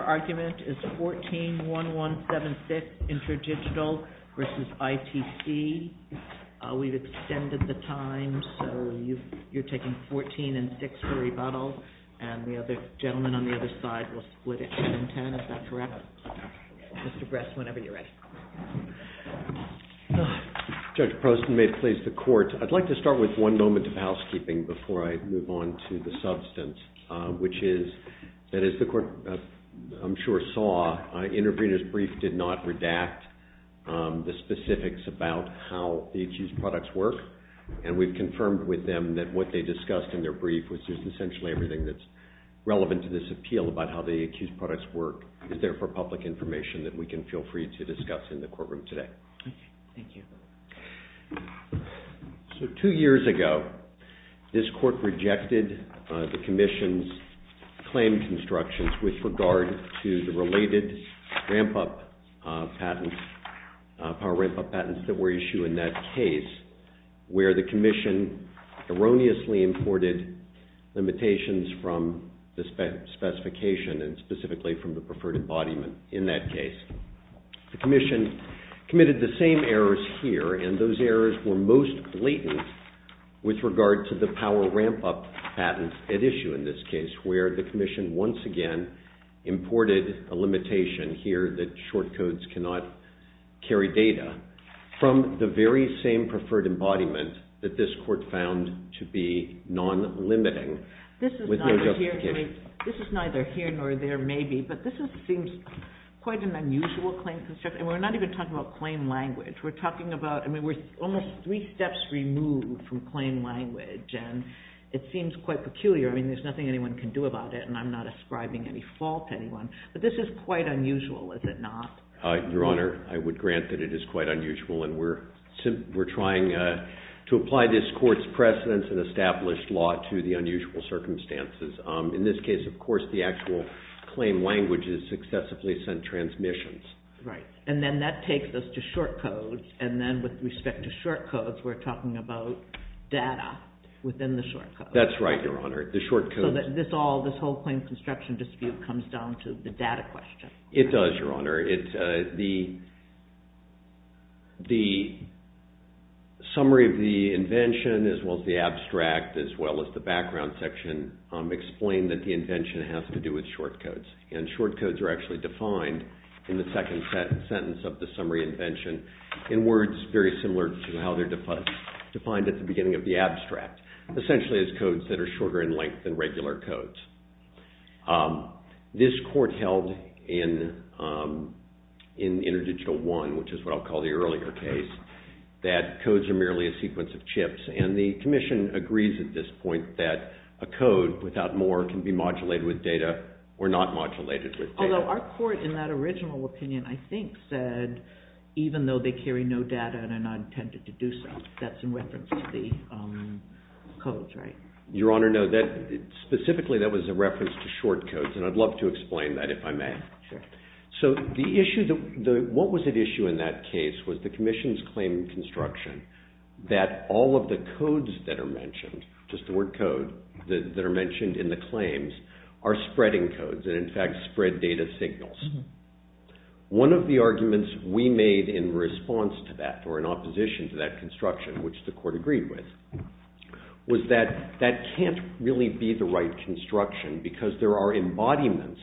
argument is 14-1176 InterDigital v. ITC. We've extended the time, so you're taking 14-6 for rebuttal, and the other gentleman on the other side will split it in 10 if that's correct. Mr. Bress, whenever you're ready. Judge Prosten, may it please the Court. I'd like to start with one moment of housekeeping before I move on to the substance, which is that as the Court, I'm sure, saw, Interpreter's brief did not redact the specifics about how the accused products work, and we've confirmed with them that what they discussed in their brief, which is essentially everything that's relevant to this appeal about how the accused products work, is there for public information that we can feel free to discuss in the courtroom today. Thank you. So two years ago, this Court rejected the Commission's claim constructions with regard to the related power ramp-up patents that were issued in that case, where the Commission erroneously imported limitations from the specification, and specifically from the preferred embodiment in that case. The Commission committed the same errors here, and those errors were most blatant with regard to the power ramp-up patents at issue in this case, where the Commission once again imported a limitation here that short codes cannot carry data from the very same preferred embodiment that this Court found to be non-limiting with no justification. I mean, this is neither here nor there, maybe, but this seems quite an unusual claim construction, and we're not even talking about claim language. We're talking about, I mean, we're almost three steps removed from claim language, and it seems quite peculiar. I mean, there's nothing anyone can do about it, and I'm not ascribing any fault to anyone, but this is quite unusual, is it not? Your Honor, I would grant that it is quite unusual, and we're trying to apply this Court's precedence and established law to the unusual circumstances. In this case, of course, the actual claim language is successively sent transmissions. Right, and then that takes us to short codes, and then with respect to short codes, we're talking about data within the short codes. That's right, Your Honor. So this whole claim construction dispute comes down to the data question. It does, Your Honor. The summary of the invention, as well as the abstract, as well as the background section explain that the invention has to do with short codes, and short codes are actually defined in the second sentence of the summary invention in words very similar to how they're defined at the beginning of the abstract, essentially as codes that are shorter in length than regular codes. This Court held in Interdigital I, which is what I'll call the earlier case, that codes are merely a sequence of chips, and the Commission agrees at this point that a code without more can be modulated with data or not modulated with data. Although our Court in that original opinion, I think, said even though they carry no data and are not intended to do so. That's in reference to the codes, right? Your Honor, no. Specifically, that was a reference to short codes, and I'd love to explain that if I may. So the issue, what was at issue in that case was the Commission's claim construction that all of the codes that are mentioned, just the word code, that are mentioned in the claims are spreading codes, and in fact, spread data signals. One of the arguments we made in response to that, or in opposition to that construction, which the Court agreed with, was that that can't really be the right construction, because there are embodiments,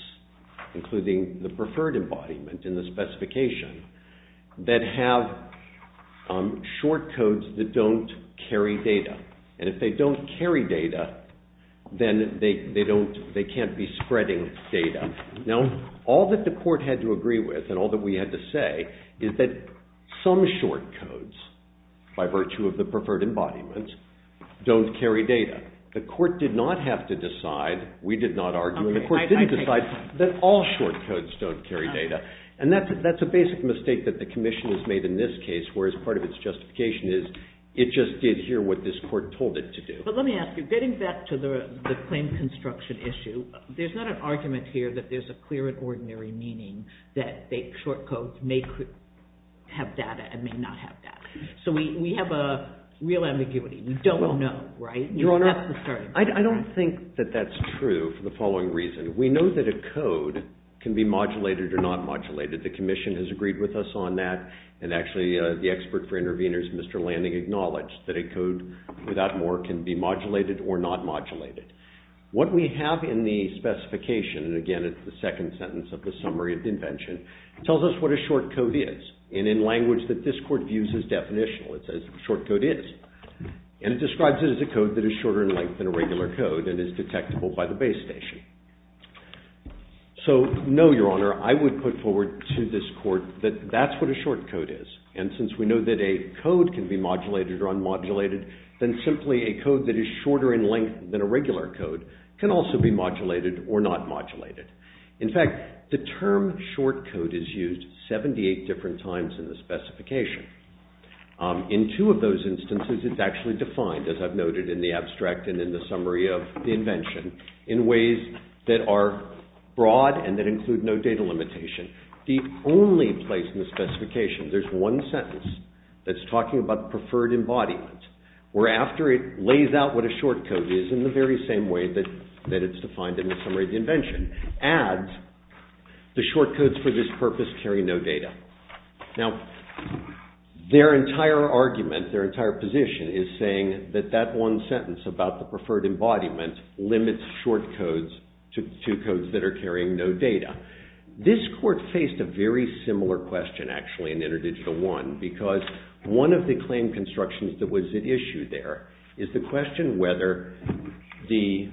including the preferred embodiment in the specification, that have short codes that don't carry data. And if they don't carry data, then they can't be spreading data. Now, all that the Court had to agree with, and all that we had to say, is that some short codes, by virtue of the preferred embodiment, don't carry data. The Court did not have to decide, we did not argue, and the Court didn't decide that all short codes don't carry data. And that's a basic mistake that the Commission has made in this case, whereas part of its justification is it just did here what this Court told it to do. But let me ask you, getting back to the claim construction issue, there's not an argument here that there's a clear and ordinary meaning that short codes may have data and may not have data. So we have a real ambiguity. We don't know, right? Your Honor, I don't think that that's true for the following reason. We know that a code can be modulated or not modulated. The Commission has agreed with us on that, and actually the expert for interveners, Mr. Landing, acknowledged that a code without more can be modulated or not modulated. What we have in the specification, and again it's the second sentence of the Summary of Invention, tells us what a short code is, and in language that this Court views as definitional, it says a short code is. And it describes it as a code that is shorter in length than a regular code and is detectable by the base station. So, no, Your Honor, I would put forward to this Court that that's what a short code is. And since we know that a code can be modulated or unmodulated, then simply a code that is shorter in length than a regular code can also be modulated or not modulated. In fact, the term short code is used 78 different times in the specification. In two of those instances, it's actually defined, as I've noted in the abstract and in the Summary of Invention, in ways that are broad and that include no data limitation. The only place in the specification, there's one sentence that's talking about preferred embodiment. Where after it lays out what a short code is in the very same way that it's defined in the Summary of Invention, adds the short codes for this purpose carry no data. Now, their entire argument, their entire position is saying that that one sentence about the preferred embodiment limits short codes to codes that are carrying no data. This Court faced a very similar question, actually, in Interdigital I, because one of the claim constructions that was at issue there is the question whether the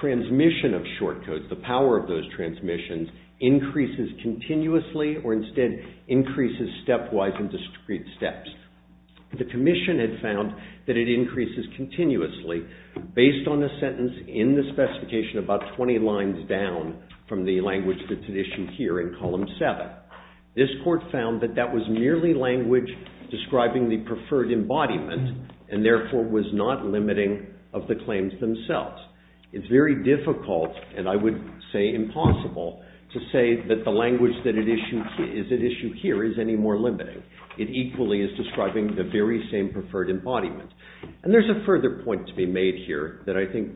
transmission of short codes, the power of those transmissions, increases continuously or instead increases stepwise in discrete steps. The Commission had found that it increases continuously based on a sentence in the specification about 20 lines down from the language that's at issue here in Column 7. This Court found that that was merely language describing the preferred embodiment and therefore was not limiting of the claims themselves. It's very difficult, and I would say impossible, to say that the language that is at issue here is any more limiting. It equally is describing the very same preferred embodiment. And there's a further point to be made here that I think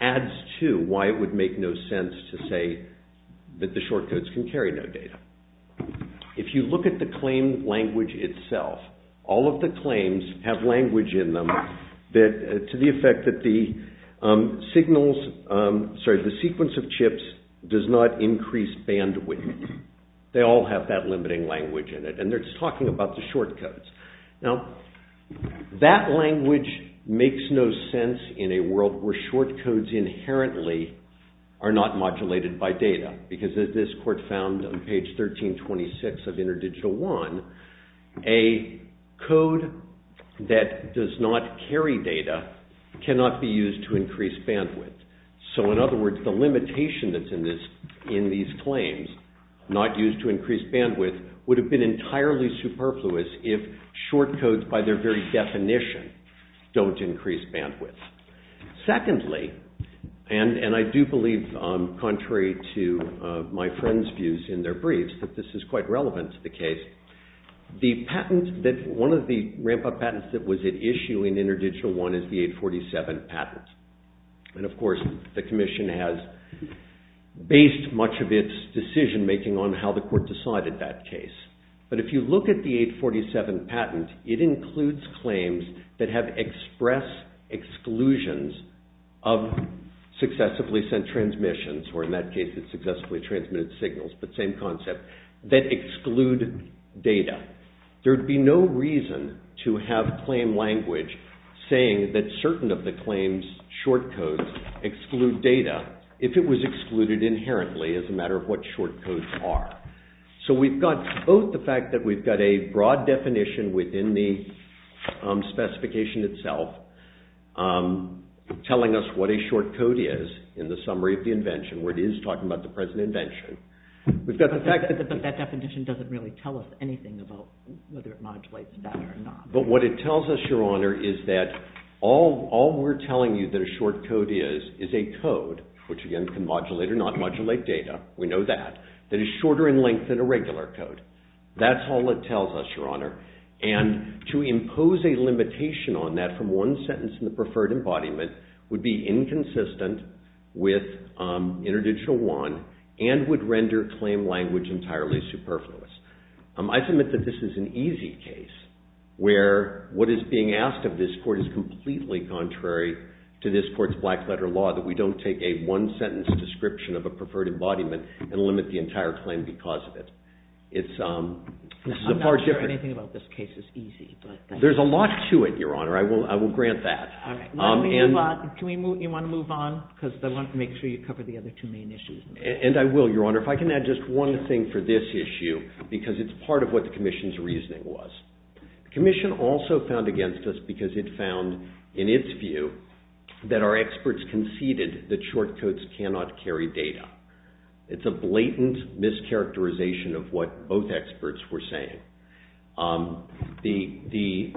adds to why it would make no sense to say that the short codes can carry no data. If you look at the claim language itself, all of the claims have language in them to the effect that the sequence of chips does not increase bandwidth. They all have that limiting language in it, and they're just talking about the short codes. Now, that language makes no sense in a world where short codes inherently are not modulated by data because as this Court found on page 1326 of Interdigital I, a code that does not carry data cannot be used to increase bandwidth. So in other words, the limitation that's in these claims, not used to increase bandwidth, would have been entirely superfluous if short codes, by their very definition, don't increase bandwidth. Secondly, and I do believe, contrary to my friends' views in their briefs, that this is quite relevant to the case. One of the ramp-up patents that was at issue in Interdigital I is the 847 patent. And of course, the Commission has based much of its decision-making on how the Court decided that case. But if you look at the 847 patent, it includes claims that have express exclusions of successively sent transmissions, or in that case, it's successively transmitted signals, but same concept, that exclude data. There would be no reason to have claim language saying that certain of the claims' short codes exclude data if it was excluded inherently as a matter of what short codes are. So we've got both the fact that we've got a broad definition within the specification itself telling us what a short code is in the summary of the invention, where it is talking about the present invention. But that definition doesn't really tell us anything about whether it modulates that or not. But what it tells us, Your Honor, is that all we're telling you that a short code is, is a code, which again can modulate or not modulate data, we know that, that is shorter in length than a regular code. That's all it tells us, Your Honor. And to impose a limitation on that from one sentence in the preferred embodiment would be inconsistent with interdigital one and would render claim language entirely superfluous. I submit that this is an easy case where what is being asked of this court is completely contrary to this court's black-letter law, that we don't take a one-sentence description of a preferred embodiment and limit the entire claim because of it. It's, this is a far different... I'm not sure anything about this case is easy, but... There's a lot to it, Your Honor, I will grant that. Can we move, you want to move on? Because I want to make sure you cover the other two main issues. And I will, Your Honor. If I can add just one thing for this issue, because it's part of what the Commission's reasoning was. The Commission also found against us because it found, in its view, that our experts conceded that short codes cannot carry data. It's a blatant mischaracterization of what both experts were saying. The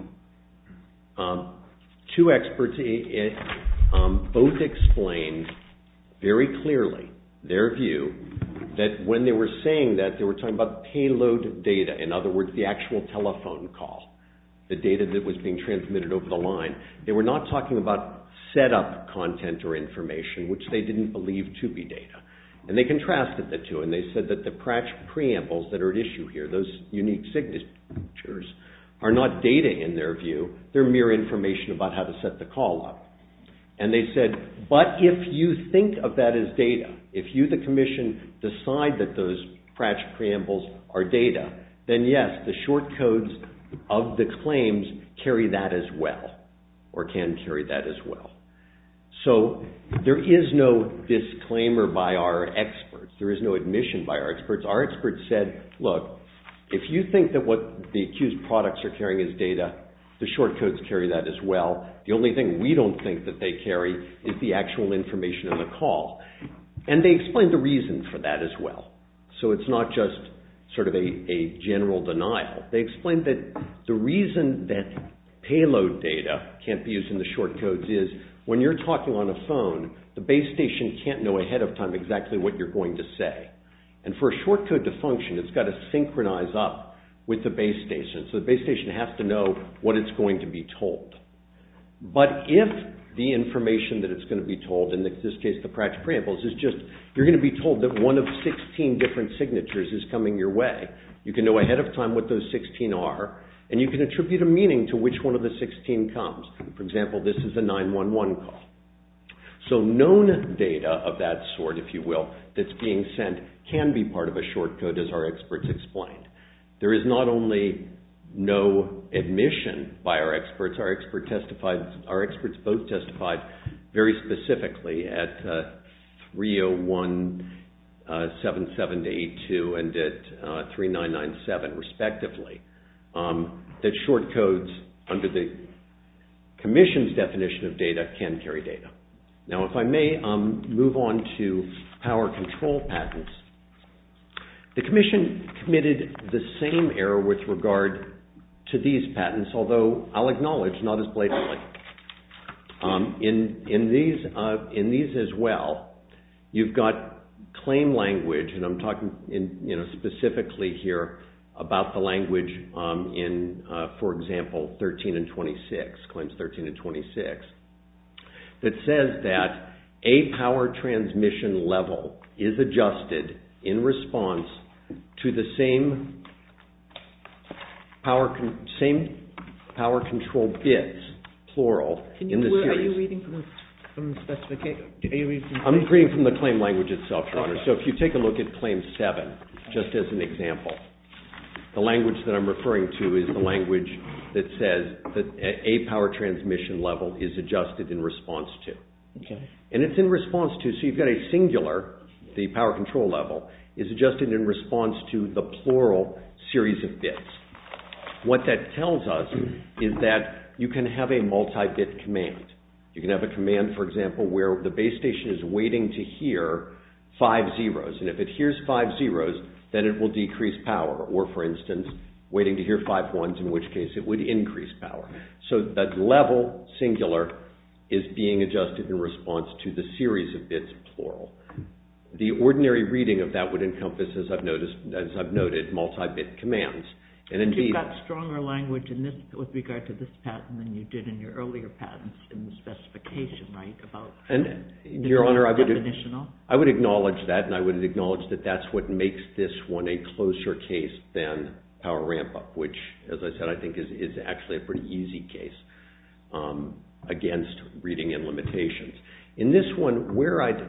two experts both explained very clearly their view that when they were saying that, they were talking about payload data, in other words, the actual telephone call, the data that was being transmitted over the line. They were not talking about set-up content or information, which they didn't believe to be data. And they contrasted the two, and they said that the preambles that are at issue here, those unique signatures, are not data in their view. They're mere information about how to set the call up. And they said, but if you think of that as data, if you, the Commission, decide that those Pratchett preambles are data, then yes, the short codes of the claims carry that as well, or can carry that as well. So there is no disclaimer by our experts. There is no admission by our experts. Our experts said, look, if you think that what the accused products are carrying is data, the short codes carry that as well. The only thing we don't think that they carry is the actual information in the call. And they explained the reason for that as well. So it's not just sort of a general denial. They explained that the reason that payload data can't be used in the short codes is, when you're talking on a phone, the base station can't know ahead of time exactly what you're going to say. And for a short code to function, it's got to synchronize up with the base station. So the base station has to know what it's going to be told. But if the information that it's going to be told, in this case the Pratchett preambles, is just you're going to be told that one of 16 different signatures is coming your way, you can know ahead of time what those 16 are, and you can attribute a meaning to which one of the 16 comes. For example, this is a 911 call. So known data of that sort, if you will, that's being sent can be part of a short code, as our experts explained. There is not only no admission by our experts. Our experts both testified very specifically at 30177-82 and at 3997, respectively, that short codes under the Commission's definition of data can carry data. Now if I may move on to power control patents. The Commission committed the same error with regard to these patents, although I'll acknowledge not as blatantly. In these as well, you've got claim language, and I'm talking specifically here about the language in, for example, claims 13 and 26, that says that a power transmission level is adjusted in response to the same power control bits, plural, in the series. Are you reading from the specification? I'm reading from the claim language itself, Your Honor. So if you take a look at claim 7, just as an example, the language that I'm referring to is the language that says that a power transmission level is adjusted in response to. And it's in response to, so you've got a singular, the power control level, is adjusted in response to the plural series of bits. What that tells us is that you can have a multi-bit command. You can have a command, for example, where the base station is waiting to hear five zeros. And if it hears five zeros, then it will decrease power. Or, for instance, waiting to hear five ones, in which case it would increase power. So that level, singular, is being adjusted in response to the series of bits, plural. The ordinary reading of that would encompass, as I've noted, multi-bit commands. And you've got stronger language with regard to this patent than you did in your earlier patents in the specification, right? Your Honor, I would acknowledge that, and I would acknowledge that that's what makes this one a closer case than power ramp-up, which, as I said, I think is actually a pretty easy case against reading and limitations. In this one, where I'd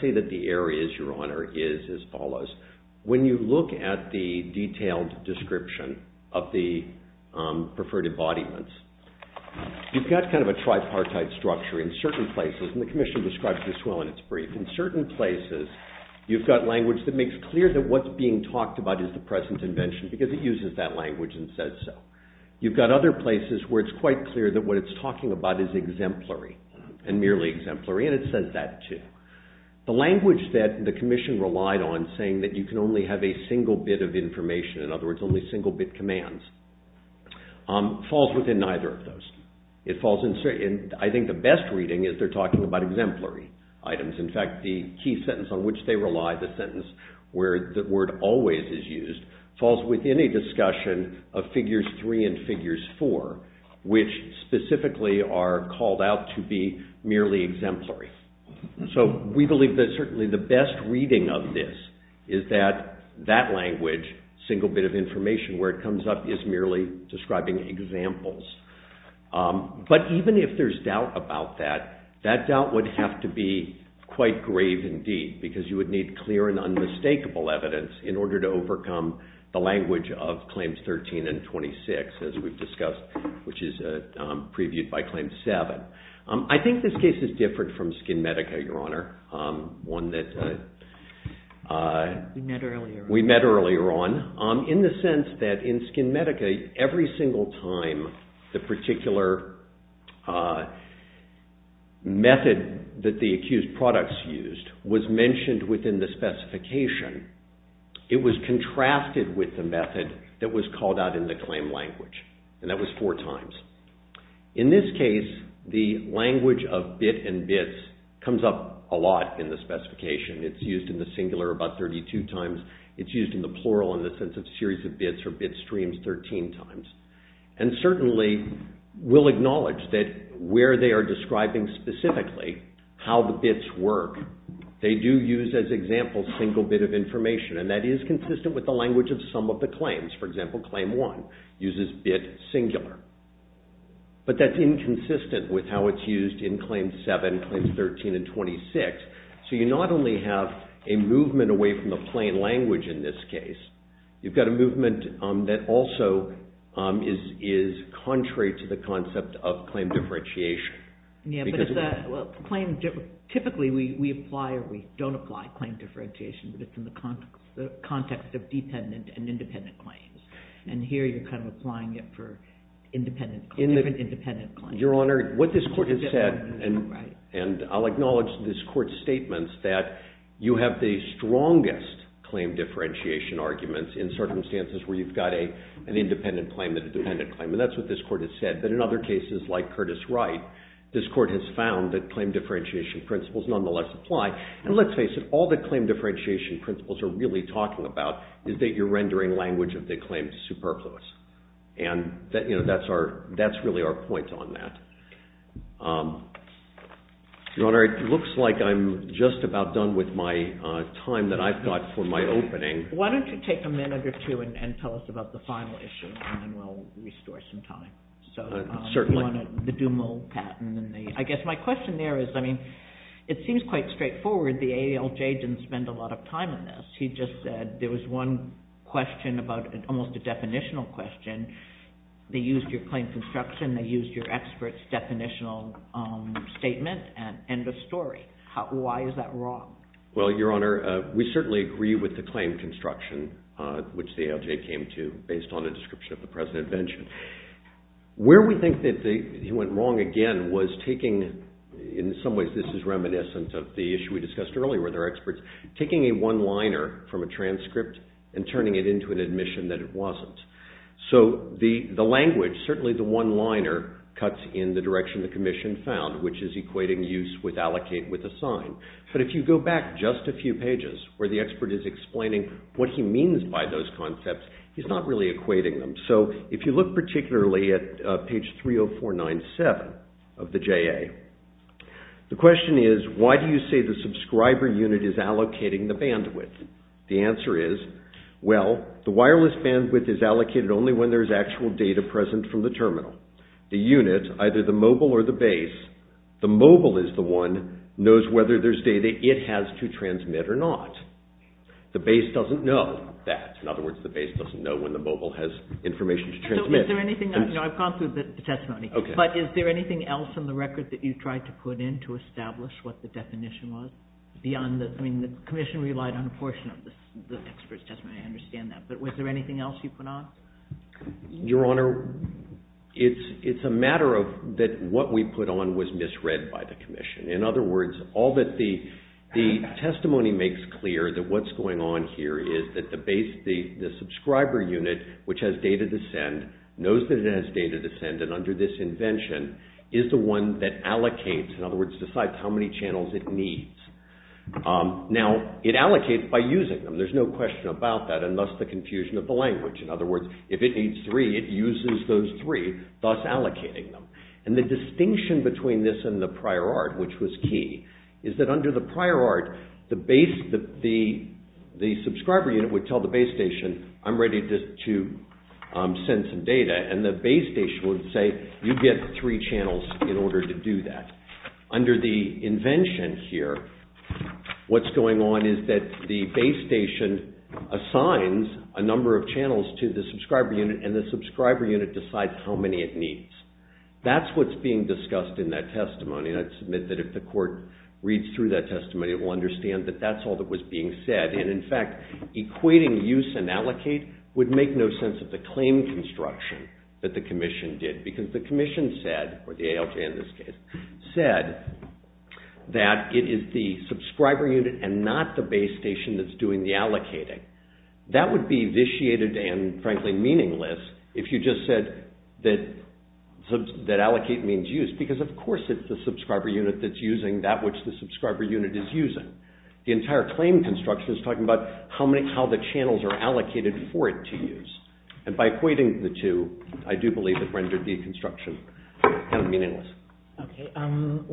say that the error is, Your Honor, is as follows. When you look at the detailed description of the preferred embodiments, you've got kind of a tripartite structure in certain places, and the Commission describes this well in its brief. In certain places, you've got language that makes clear that what's being talked about is the present invention, because it uses that language and says so. You've got other places where it's quite clear that what it's talking about is exemplary, and merely exemplary, and it says that, too. The language that the Commission relied on, saying that you can only have a single bit of information, in other words, only single-bit commands, falls within neither of those. I think the best reading is they're talking about exemplary items. In fact, the key sentence on which they rely, the sentence where the word always is used, falls within a discussion of Figures 3 and Figures 4, which specifically are called out to be merely exemplary. So we believe that certainly the best reading of this is that that language, single bit of information, where it comes up is merely describing examples. But even if there's doubt about that, that doubt would have to be quite grave indeed, because you would need clear and unmistakable evidence in order to overcome the language of Claims 13 and 26, as we've discussed, which is previewed by Claim 7. I think this case is different from SkinMedica, Your Honor, one that we met earlier on, in the sense that in SkinMedica, every single time the particular method that the accused products used was mentioned within the specification, it was contrasted with the method that was called out in the claim language, and that was four times. In this case, the language of bit and bits comes up a lot in the specification. It's used in the singular about 32 times. It's used in the plural in the sense of series of bits or bit streams 13 times. And certainly we'll acknowledge that where they are describing specifically how the bits work, they do use as examples single bit of information, and that is consistent with the language of some of the claims. For example, Claim 1 uses bit singular. But that's inconsistent with how it's used in Claim 7, Claims 13, and 26. So you not only have a movement away from the plain language in this case, you've got a movement that also is contrary to the concept of claim differentiation. Typically, we apply or we don't apply claim differentiation, but it's in the context of dependent and independent claims. And here you're kind of applying it for independent, different independent claims. Your Honor, what this court has said, and I'll acknowledge this court's statements, that you have the strongest claim differentiation arguments in circumstances where you've got an independent claim and a dependent claim. And that's what this court has said. But in other cases, like Curtis Wright, this court has found that claim differentiation principles nonetheless apply. And let's face it, all the claim differentiation principles are really talking about is that you're rendering language of the claim superfluous. And that's really our point on that. Your Honor, it looks like I'm just about done with my time that I've got for my opening. Why don't you take a minute or two and tell us about the final issue, and then we'll restore some time. Certainly. The Dumont patent. I guess my question there is, I mean, it seems quite straightforward. The ALJ didn't spend a lot of time on this. He just said there was one question about almost a definitional question. They used your claim construction. They used your expert's definitional statement. End of story. Why is that wrong? Well, Your Honor, we certainly agree with the claim construction, which the ALJ came to based on the description of the present invention. Where we think that he went wrong again was taking, in some ways this is reminiscent of the issue we discussed earlier, where there are experts taking a one-liner from a transcript and turning it into an admission that it wasn't. So the language, certainly the one-liner, cuts in the direction the commission found, which is equating use with allocate with assign. But if you go back just a few pages, where the expert is explaining what he means by those concepts, he's not really equating them. So if you look particularly at page 30497 of the JA, the question is, why do you say the subscriber unit is allocating the bandwidth? The answer is, well, the wireless bandwidth is allocated only when there is actual data present from the terminal. The unit, either the mobile or the base, the mobile is the one knows whether there's data it has to transmit or not. The base doesn't know that. In other words, the base doesn't know when the mobile has information to transmit. I've gone through the testimony. But is there anything else in the record that you tried to put in to establish what the definition was? The commission relied on a portion of the expert's testimony. I understand that. But was there anything else you put on? Your Honor, it's a matter of that what we put on was misread by the commission. In other words, all that the testimony makes clear that what's going on here which has data to send, knows that it has data to send and under this invention is the one that allocates, in other words, decides how many channels it needs. Now, it allocates by using them. There's no question about that and thus the confusion of the language. In other words, if it needs three, it uses those three, thus allocating them. And the distinction between this and the prior art, which was key, is that under the prior art, the subscriber unit would tell the base station, I'm ready to send some data and the base station would say, you get three channels in order to do that. Under the invention here, what's going on is that the base station assigns a number of channels to the subscriber unit and the subscriber unit decides how many it needs. That's what's being discussed in that testimony and I submit that if the court reads through that testimony, it will understand that that's all that was being said and in fact, equating use and allocate would make no sense of the claim construction that the commission did because the commission said, or the ALJ in this case, said that it is the subscriber unit and not the base station that's doing the allocating. That would be vitiated and frankly meaningless if you just said that allocate means use because of course it's the subscriber unit that's using that which the subscriber unit is using. The entire claim construction is talking about how the channels are allocated for it to use and by equating the two, I do believe it rendered the construction kind of meaningless. Okay.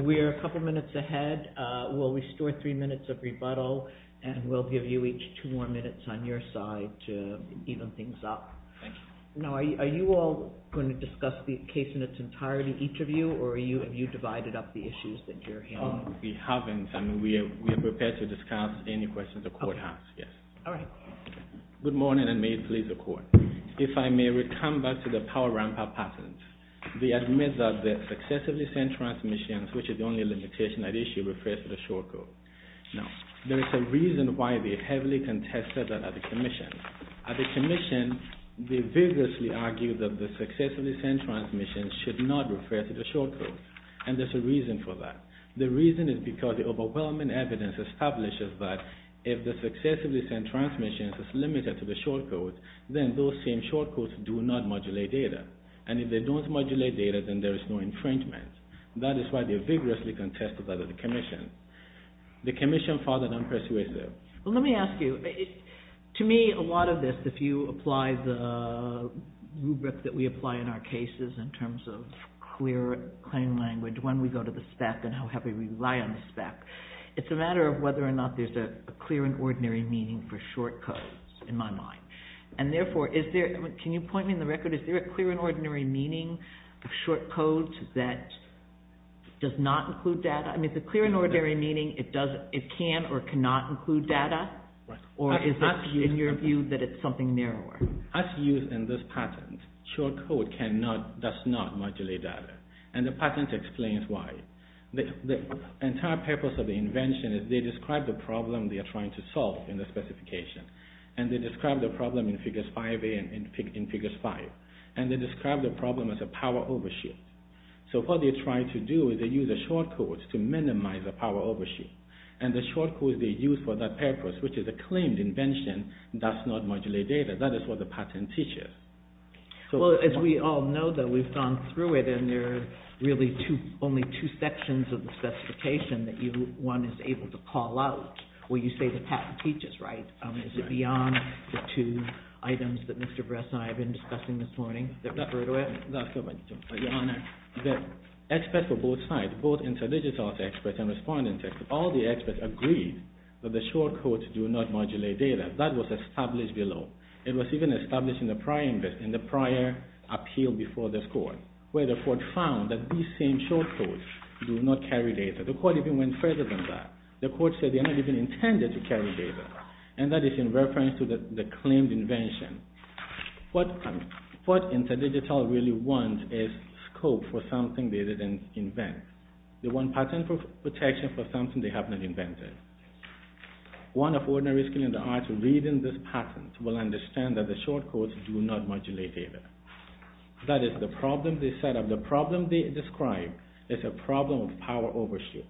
We are a couple minutes ahead. We'll restore three minutes of rebuttal and we'll give you each two more minutes on your side to even things up. Thank you. Now, are you all going to discuss the case in its entirety, each of you, or have you divided up the issues that you're handling? We haven't. We are prepared to discuss any questions the court has. Yes. All right. Good morning and may it please the court. If I may, we come back to the power ramp up patent. We admit that the successively sent transmissions, which is the only limitation at issue, refers to the short code. Now, there is a reason why they heavily contested that at the commission. At the commission, they vigorously argued that the successively sent transmissions should not refer to the short code and there's a reason for that. The reason is because the overwhelming evidence establishes that if the successively sent transmissions is limited to the short code, then those same short codes do not modulate data. And if they don't modulate data, then there is no infringement. That is why they vigorously contested that at the commission. The commission furthered and persuaded. Well, let me ask you, to me, a lot of this, if you apply the rubric that we apply in our cases in terms of clear claim language, when we go to the spec and how heavily we rely on the spec, it's a matter of whether or not there's a clear and ordinary meaning for short codes, in my mind. And therefore, is there, can you point me in the record, is there a clear and ordinary meaning of short code that does not include data? I mean, the clear and ordinary meaning, it can or cannot include data, or is it in your view that it's something narrower? As used in this patent, short code does not modulate data. And the patent explains why. The entire purpose of the invention is they describe the problem they are trying to solve in the specification. And they describe the problem in Figures 5A and in Figures 5. And they describe the problem as a power overshoot. So what they're trying to do is they use a short code to minimize the power overshoot. And the short code they use for that purpose, which is a claimed invention, does not modulate data. That is what the patent teaches. Well, as we all know that we've gone through it and there are really only two sections of the specification that one is able to call out. Well, you say the patent teaches, right? Is it beyond the two items that Mr. Bress and I have been discussing this morning that refer to it? Your Honor, the experts for both sides, both intelligence experts and respondent experts, all the experts agreed that the short codes do not modulate data. That was established below. It was even established in the prior appeal before this Court, where the Court found that these same short codes do not carry data. The Court even went further than that. The Court said they're not even intended to carry data. And that is in reference to the claimed invention. What InterDigital really wants is scope for something they didn't invent. They want patent protection for something they have not invented. One of ordinary skill in the arts reading this patent will understand that the short codes do not modulate data. That is the problem they set up. The problem they describe is a problem of power overshoot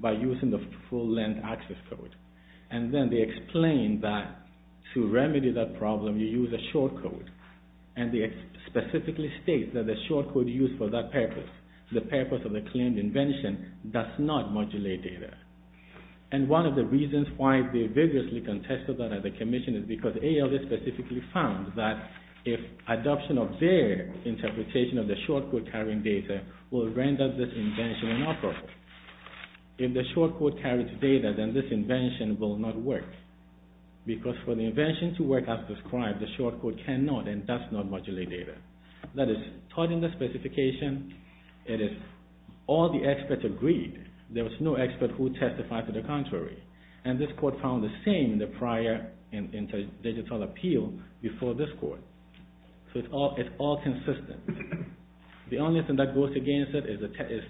by using the full-length access code. And then they explain that to remedy that problem, you use a short code. And they specifically state that the short code used for that purpose, the purpose of the claimed invention, does not modulate data. And one of the reasons why they vigorously contested that at the Commission is because ALS specifically found that if adoption of their interpretation of the short code carrying data will render this invention inoperable. If the short code carries data, then this invention will not work. Because for the invention to work as described, the short code cannot and does not modulate data. That is taught in the specification. It is all the experts agreed. There was no expert who testified to the contrary. And this Court found the same in the prior InterDigital appeal before this Court. So it's all consistent. The only thing that goes against it is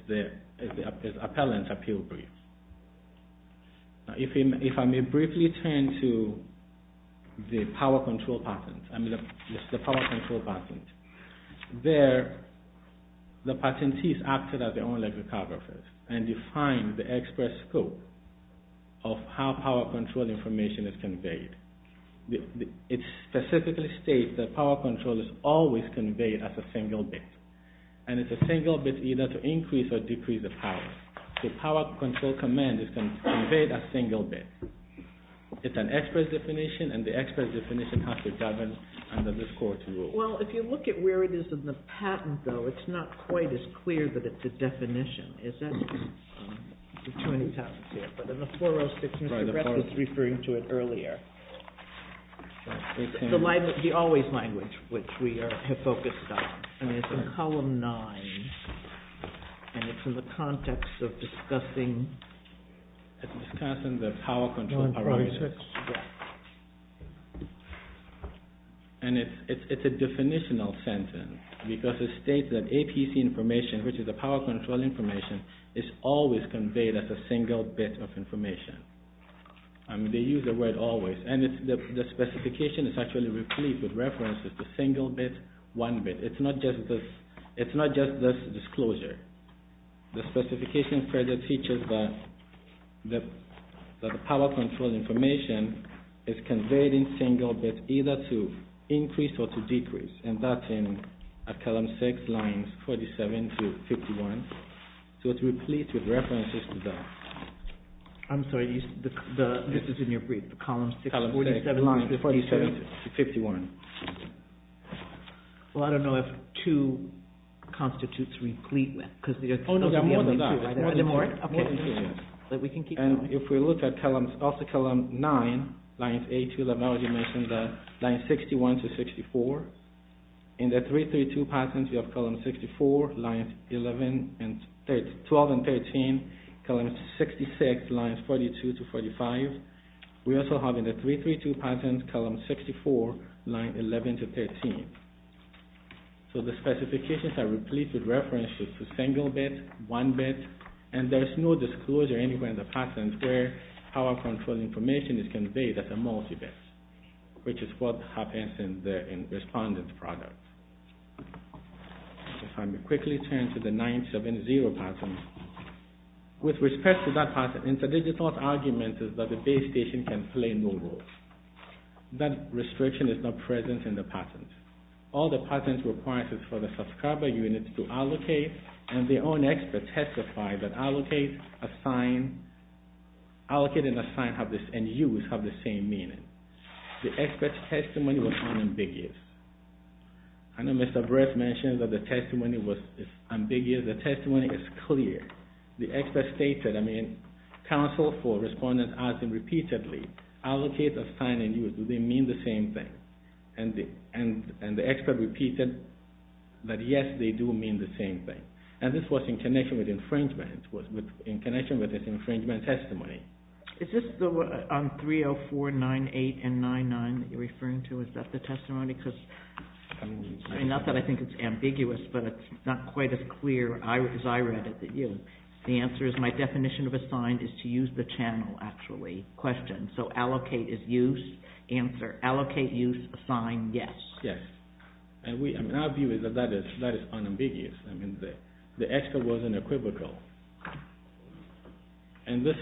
the appellant's appeal brief. If I may briefly turn to the power control patent. I mean, the power control patent. There, the patentees acted as their own ethnographers and defined the expert scope of how power control information is conveyed. It specifically states that power control is always conveyed as a single bit. And it's a single bit either to increase or decrease the power. So power control command is conveyed as a single bit. It's an expert definition, and the expert definition has to govern under this Court's rule. Well, if you look at where it is in the patent, though, it's not quite as clear that it's a definition. Is that... There's too many patents here. But in the 406, Mr. Brett was referring to it earlier. The always language, which we have focused on. And it's in column nine. And it's in the context of discussing... It's discussing the power control parameters. And it's a definitional sentence because it states that APC information, which is the power control information, is always conveyed as a single bit of information. I mean, they use the word always. And the specification is actually replete with references to single bit, one bit. It's not just this disclosure. The specification further teaches that the power control information is conveyed in single bit either to increase or to decrease. And that's in column six, lines 47 to 51. So it's replete with references to that. I'm sorry, this is in your brief. Column six, lines 47 to 51. Well, I don't know if two constitutes replete. Oh, no, there are more than that. More than two. But we can keep going. And if we look at also column nine, lines eight to 11, I already mentioned that, lines 61 to 64. In the 332 patents, we have columns 64, lines 12 and 13, columns 66, lines 42 to 45. We also have in the 332 patents, columns 64, lines 11 to 13. So the specifications are replete with references to single bit, one bit, and there's no disclosure anywhere in the patents where power control information is conveyed as a multi-bit, which is what happens in the respondent product. If I may quickly turn to the 970 patent. With respect to that patent, Interdigital's argument is that the base station can play no role. That restriction is not present in the patent. All the patent requires is for the subscriber unit to allocate, and their own experts testify that allocate, assign, allocate and assign and use have the same meaning. The expert's testimony was unambiguous. I know Mr. Bress mentioned that the testimony was ambiguous. The testimony is clear. The expert stated, I mean, counsel for respondent asking repeatedly, allocate, assign and use, do they mean the same thing? And the expert repeated that yes, they do mean the same thing. And this was in connection with infringement, in connection with this infringement testimony. Is this on 304, 98 and 99 that you're referring to? Is that the testimony? Not that I think it's ambiguous, but it's not quite as clear as I read it to you. The answer is my definition of assign is to use the channel, actually, question. So allocate is use, answer, allocate, use, assign, yes. Yes. And our view is that that is unambiguous. The expert was unequivocal. And this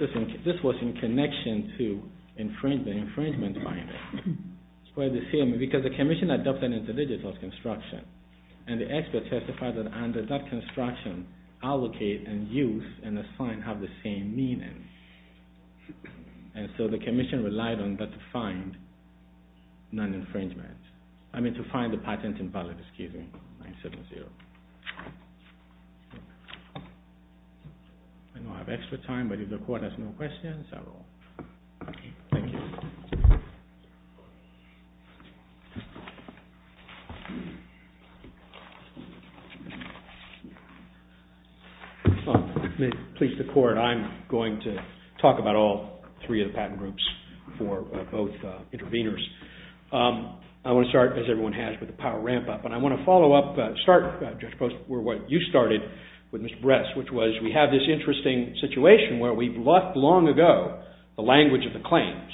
was in connection to the infringement finding. It's quite the same, because the commission adopted it as a digital construction. And the expert testified that under that construction, allocate and use and assign have the same meaning. And so the commission relied on that to find non-infringement. I mean, to find the patent invalid, excuse me, 970. I don't have extra time, but if the court has no questions, I will. Thank you. Thank you. May it please the court, I'm going to talk about all three of the patent groups for both interveners. I want to start, as everyone has, with the power ramp-up. And I want to follow up, start, Judge Post, with what you started with Mr. Bress, which was we have this interesting situation where we've left long ago the language of the claims,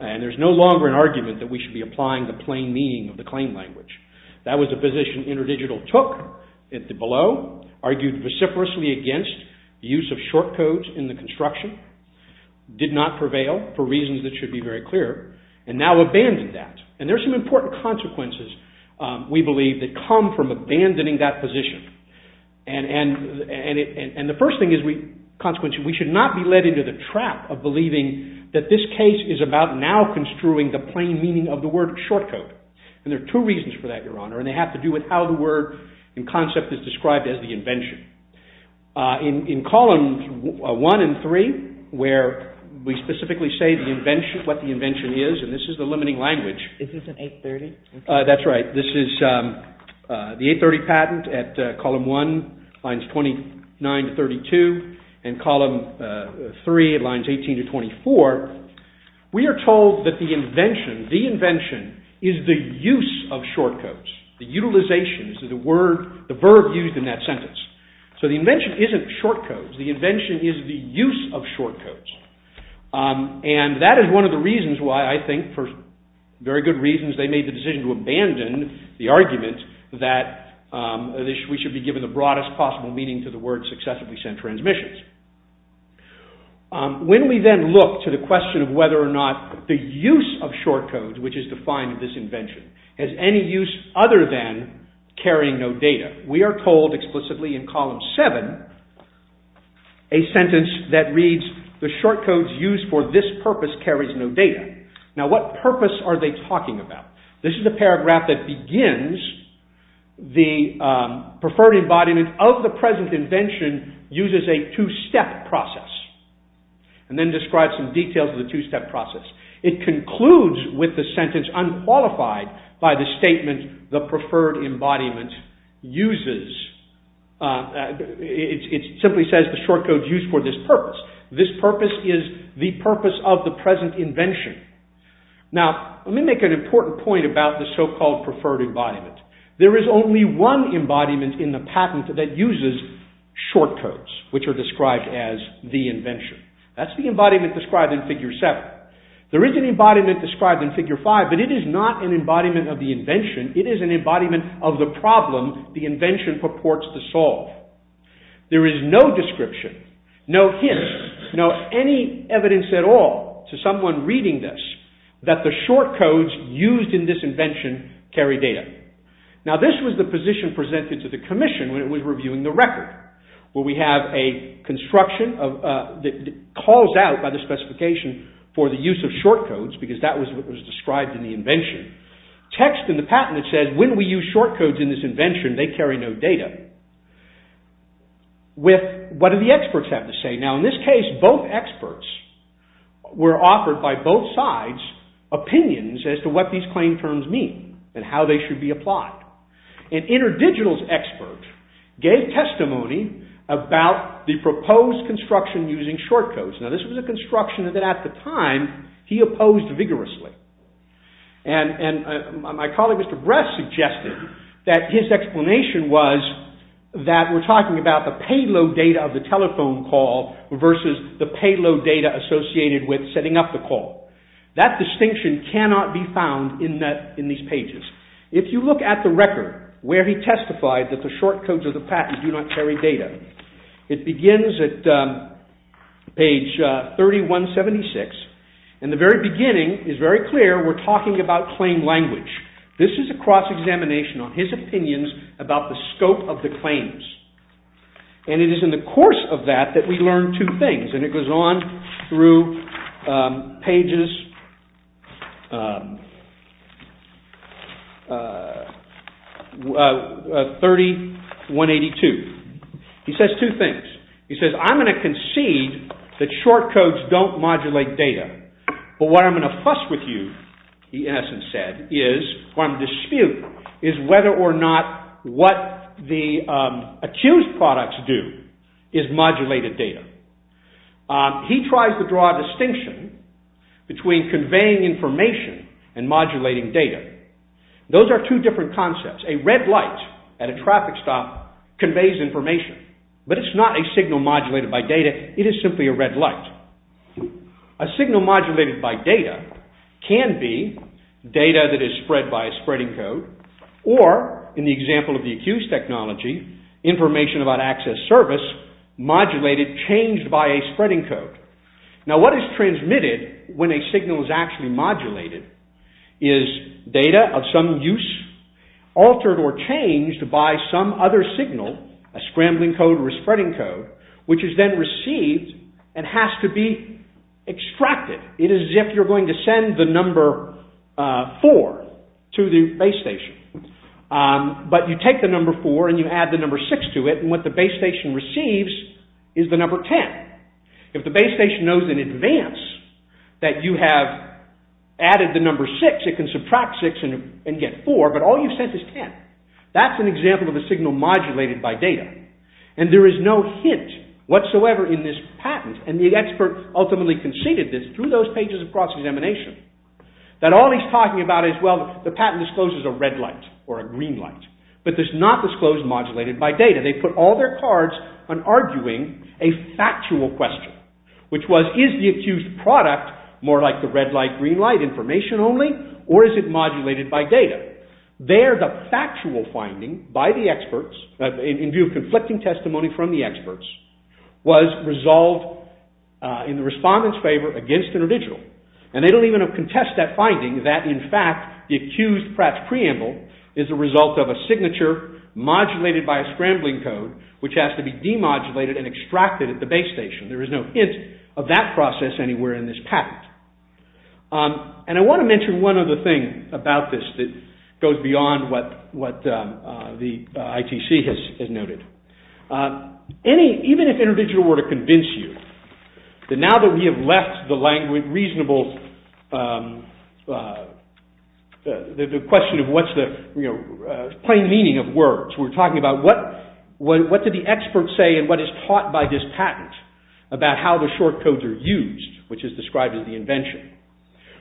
and there's no longer an argument that we should be applying the plain meaning of the claim language. That was a position InterDigital took at the below, argued reciprocally against the use of short codes in the construction, did not prevail for reasons that should be very clear, and now abandoned that. And there's some important consequences, we believe, that come from abandoning that position. And the first thing is, consequently, we should not be led into the trap of believing that this case is about now construing the plain meaning of the word short code. And there are two reasons for that, Your Honor, and they have to do with how the word in concept is described as the invention. In columns 1 and 3, where we specifically say what the invention is, and this is the limiting language. Is this an 830? That's right. This is the 830 patent at column 1, lines 29 to 32, and column 3, lines 18 to 24, we are told that the invention, the invention is the use of short codes, the utilizations of the word, the verb used in that sentence. So the invention isn't short codes. The invention is the use of short codes. And that is one of the reasons why I think, for very good reasons, they made the decision to abandon the argument that we should be given the broadest possible meaning to the word successively sent transmissions. When we then look to the question of whether or not the use of short codes, which is defined in this invention, has any use other than carrying no data, we are told explicitly in column 7, a sentence that reads, the short codes used for this purpose carries no data. Now what purpose are they talking about? This is the paragraph that begins the preferred embodiment of the present invention uses a two-step process. And then describes some details of the two-step process. It concludes with the sentence unqualified by the statement the preferred embodiment uses. It simply says the short codes used for this purpose. This purpose is the purpose of the present invention. Now let me make an important point about the so-called preferred embodiment. There is only one embodiment in the patent that uses short codes, which are described as the invention. That's the embodiment described in figure 7. There is an embodiment described in figure 5, but it is not an embodiment of the invention. It is an embodiment of the problem the invention purports to solve. There is no description, no hint, no any evidence at all to someone reading this that the short codes used in this invention carry data. Now this was the position presented to the commission when it was reviewing the record. Where we have a construction that calls out by the specification for the use of short codes because that was what was described in the invention. Text in the patent that says when we use short codes in this invention they carry no data. What do the experts have to say? Now in this case both experts were offered by both sides opinions as to what these claim terms mean and how they should be applied. An interdigitals expert gave testimony about the proposed construction using short codes. Now this was a construction that at the time he opposed vigorously. And my colleague Mr. Bress suggested that his explanation was that we're talking about the payload data of the telephone call versus the payload data associated with setting up the call. That distinction cannot be found in these pages. If you look at the record where he testified that the short codes of the patent do not carry data, it begins at page 3176. In the very beginning it's very clear we're talking about claim language. This is a cross-examination on his opinions about the scope of the claims. And it is in the course of that that we learn two things and it goes on through pages 30-182. He says two things. He says, I'm going to concede that short codes don't modulate data. But what I'm going to fuss with you, he in essence said, is what I'm disputing is whether or not what the accused products do is modulate the data. He tries to draw a distinction between conveying information and modulating data. Those are two different concepts. A red light at a traffic stop conveys information. But it's not a signal modulated by data. It is simply a red light. A signal modulated by data can be data that is spread by a spreading code or, in the example of the accused technology, information about access service modulated, changed by a spreading code. Now what is transmitted when a signal is actually modulated is data of some use altered or changed by some other signal, a scrambling code or a spreading code, which is then received and has to be extracted. It is as if you're going to send the number 4 to the base station. But you take the number 4 and you add the number 6 to it and what the base station receives is the number 10. If the base station knows in advance that you have added the number 6, it can subtract 6 and get 4, but all you've sent is 10. That's an example of a signal modulated by data. And there is no hint whatsoever in this patent, and the expert ultimately conceded this through those pages of cross-examination, that all he's talking about is, well, the patent discloses a red light or a green light, but there's not disclosed modulated by data. They put all their cards on arguing a factual question, which was, is the accused product more like the red light, green light, information only, or is it modulated by data? There, the factual finding by the experts, in view of conflicting testimony from the experts, was resolved in the respondent's favor against InterDigital. And they don't even contest that finding, that, in fact, the accused Pratt's Preamble is a result of a signature modulated by a scrambling code, which has to be demodulated and extracted at the base station. There is no hint of that process anywhere in this patent. And I want to mention one other thing about this that goes beyond what the ITC has noted. Even if InterDigital were to convince you that now that we have left the language reasonable, the question of what's the plain meaning of words, we're talking about what do the experts say and what is taught by this patent about how the short codes are used, which is described as the invention.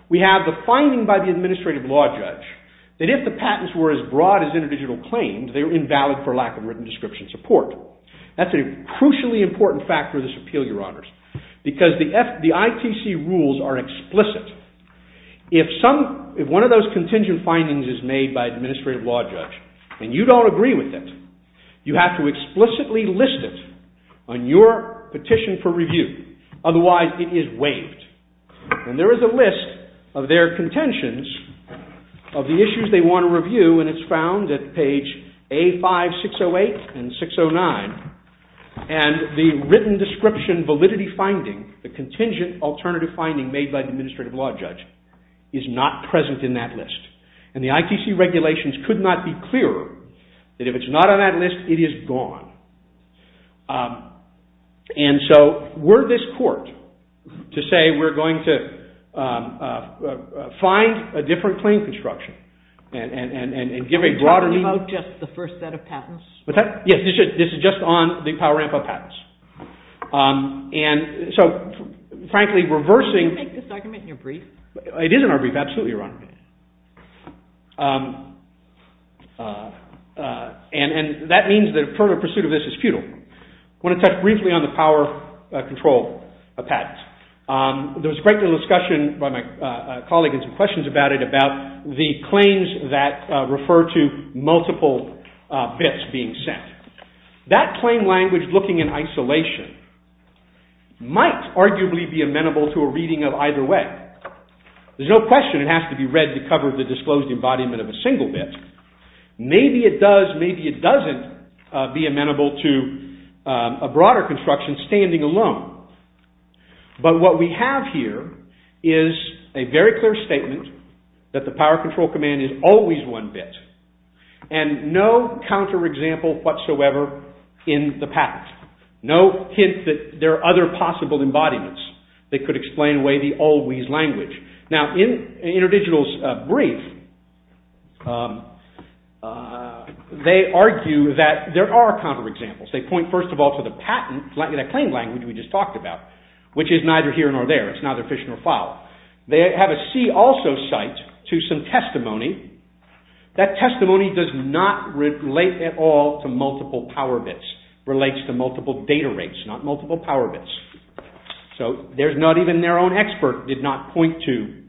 We have the finding by the administrative law judge that if the patents were as broad as InterDigital claimed, they were invalid for lack of written description support. That's a crucially important factor of this appeal, Your Honors, because the ITC rules are explicit. If one of those contingent findings is made by an administrative law judge and you don't agree with it, you have to explicitly list it on your petition for review. Otherwise, it is waived. And there is a list of their contentions of the issues they want to review, and it's found at page A5-608 and 609. And the written description validity finding, the contingent alternative finding made by the administrative law judge, is not present in that list. And the ITC regulations could not be clearer that if it's not on that list, it is gone. And so were this court to say we're going to find a different claim construction and give a broader... Are you talking about just the first set of patents? Yes, this is just on the power ramp-up patents. And so, frankly, reversing... Did you make this argument in your brief? It is in our brief, absolutely, Your Honor. And that means that a further pursuit of this is futile. I want to touch briefly on the power control of patents. There was a great deal of discussion by my colleague and some questions about it about the claims that refer to multiple bits being sent. That claim language looking in isolation might arguably be amenable to a reading of either way. There's no question it has to be read to cover the disclosed embodiment of a single bit. Maybe it does, maybe it doesn't be amenable to a broader construction standing alone. But what we have here is a very clear statement that the power control command is always one bit and no counterexample whatsoever in the patent. No hint that there are other possible embodiments that could explain away the always language. Now, in InterDigital's brief, they argue that there are counterexamples. They point, first of all, to the patent, that claim language we just talked about, which is neither here nor there. It's neither fish nor fowl. They have a see-also cite to some testimony. That testimony does not relate at all to multiple power bits. It relates to multiple data rates, not multiple power bits. So there's not even their own expert did not point to.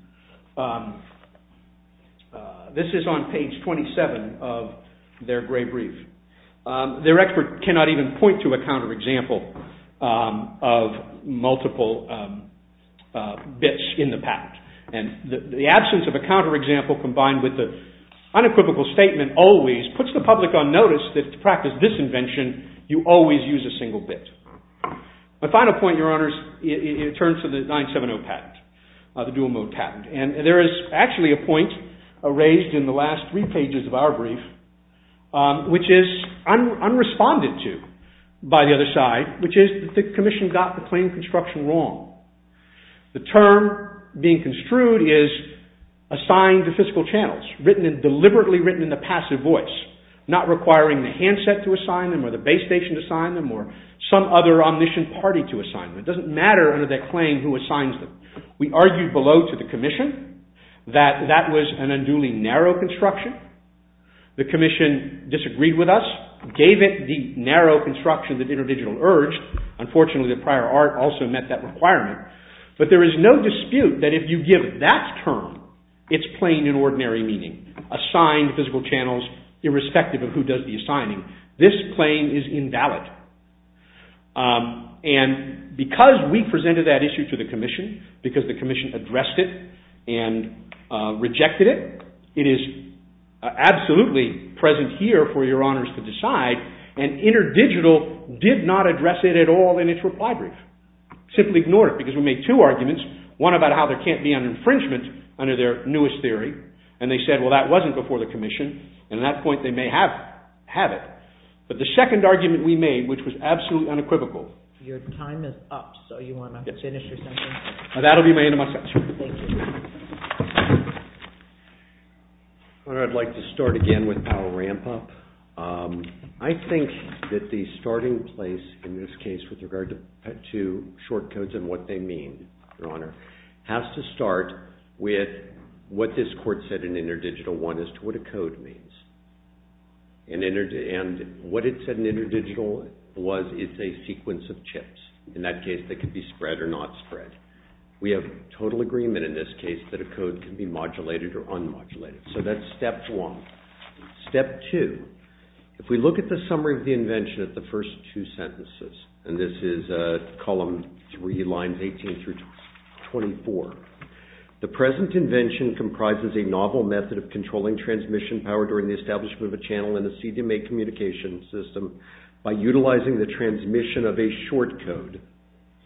This is on page 27 of their gray brief. Their expert cannot even point to a counterexample of multiple bits in the patent. And the absence of a counterexample combined with the unequivocal statement always puts the public on notice that to practice this invention, you always use a single bit. My final point, Your Honors, in terms of the 970 patent, the dual-mode patent. And there is actually a point raised in the last three pages of our brief, which is unresponded to by the other side, which is that the Commission got the claim construction wrong. The term being construed is assigned to fiscal channels, deliberately written in the passive voice, not requiring the handset to assign them or the base station to assign them or some other omniscient party to assign them. It doesn't matter under that claim who assigns them. We argued below to the Commission that that was an unduly narrow construction. The Commission disagreed with us, gave it the narrow construction that InterDigital urged. Unfortunately, the prior art also met that requirement. But there is no dispute that if you give that term its plain and ordinary meaning, assigned fiscal channels, irrespective of who does the assigning, this claim is invalid. And because we presented that issue to the Commission, because the Commission addressed it and rejected it, it is absolutely present here for your honors to decide, and InterDigital did not address it at all in its reply brief. Simply ignore it, because we made two arguments, one about how there can't be an infringement under their newest theory, and they said, well, that wasn't before the Commission, and at that point they may have it. But the second argument we made, which was absolutely unequivocal... Your time is up, so you want to finish or something? That'll be my end of my sentence. Your Honor, I'd like to start again with Powell-Rampa. I think that the starting place in this case with regard to short codes and what they mean, Your Honor, has to start with what this Court said in InterDigital I as to what a code means. And what it said in InterDigital was it's a sequence of chips. In that case, they could be spread or not spread. We have total agreement in this case that a code can be modulated or unmodulated. So that's step one. Step two. If we look at the summary of the invention at the first two sentences, and this is column 3, lines 18 through 24, the present invention comprises a novel method of controlling transmission power during the establishment of a channel in a CDMA communication system by utilizing the transmission of a short code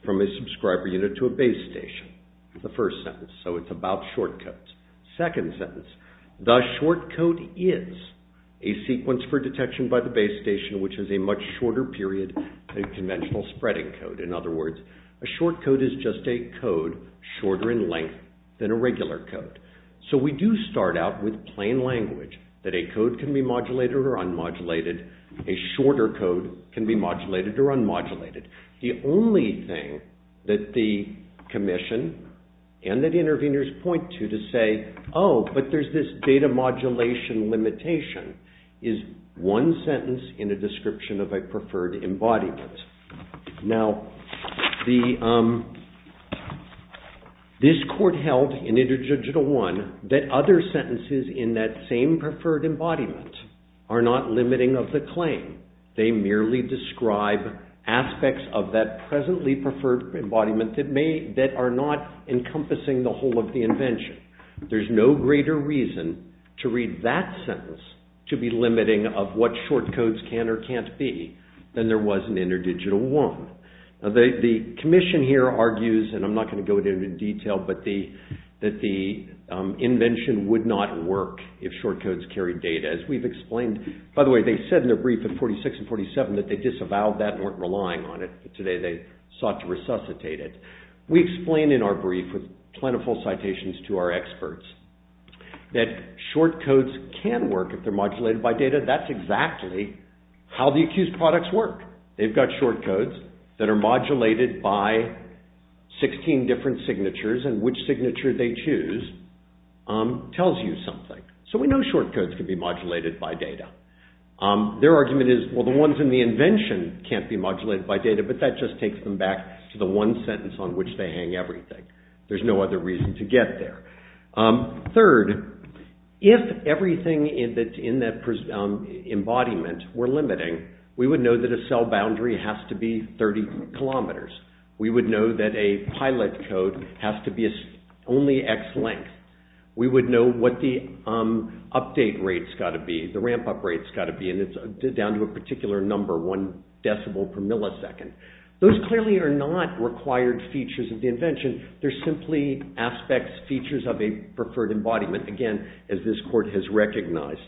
from a subscriber unit to a base station. That's the first sentence. So it's about short codes. Second sentence. The short code is a sequence for detection by the base station which is a much shorter period than a conventional spreading code. In other words, a short code is just a code shorter in length than a regular code. So we do start out with plain language that a code can be modulated or unmodulated. A shorter code can be modulated or unmodulated. The only thing that the commission and the interveners point to to say, oh, but there's this data modulation limitation, is one sentence in a description of a preferred embodiment. This court held in Interjudicial 1 that other sentences in that same preferred embodiment are not limiting of the claim. They merely describe aspects of that presently preferred embodiment that are not encompassing the whole of the invention. There's no greater reason to read that sentence to be limiting of what short codes can or can't be than there was in Interdigital 1. The commission here argues, and I'm not going to go into detail, but that the invention would not work if short codes carried data as we've explained. By the way, they said in their brief in 46 and 47 that they disavowed that and weren't relying on it, but today they sought to resuscitate it. We explain in our brief with plentiful citations to our experts that short codes can work if they're modulated by data. That's exactly how the accused products work. They've got short codes that are modulated by 16 different signatures, and which signature they choose tells you something. So we know short codes can be modulated by data. Their argument is, well, the ones in the invention can't be modulated by data, but that just takes them back to the one sentence on which they hang everything. There's no other reason to get there. Third, if everything in that embodiment were limiting, we would know that a cell boundary has to be 30 kilometers. We would know that a pilot code has to be only X length. We would know what the update rate's got to be, the ramp-up rate's got to be, and it's down to a particular number, one decibel per millisecond. Those clearly are not required features of the invention. They're simply aspects, features of a preferred embodiment, again, as this court has recognized.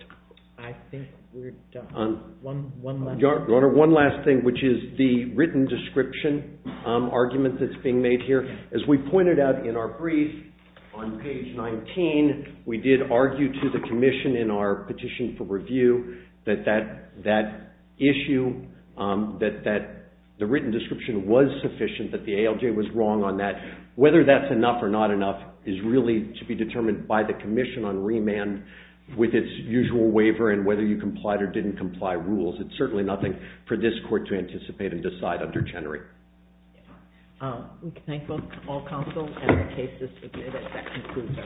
I think we're done. One last thing. Your Honor, one last thing, which is the written description argument that's being made here. As we pointed out in our brief on page 19, we did argue to the commission in our petition for review that that issue, that the written description was sufficient, that the ALJ was wrong on that. Whether that's enough or not enough is really to be determined by the commission on remand with its usual waiver and whether you complied or didn't comply rules. It's certainly nothing for this court to anticipate and decide under Chenery. Thank you, all counsel. And the case is submitted. That concludes our proceedings. All rise.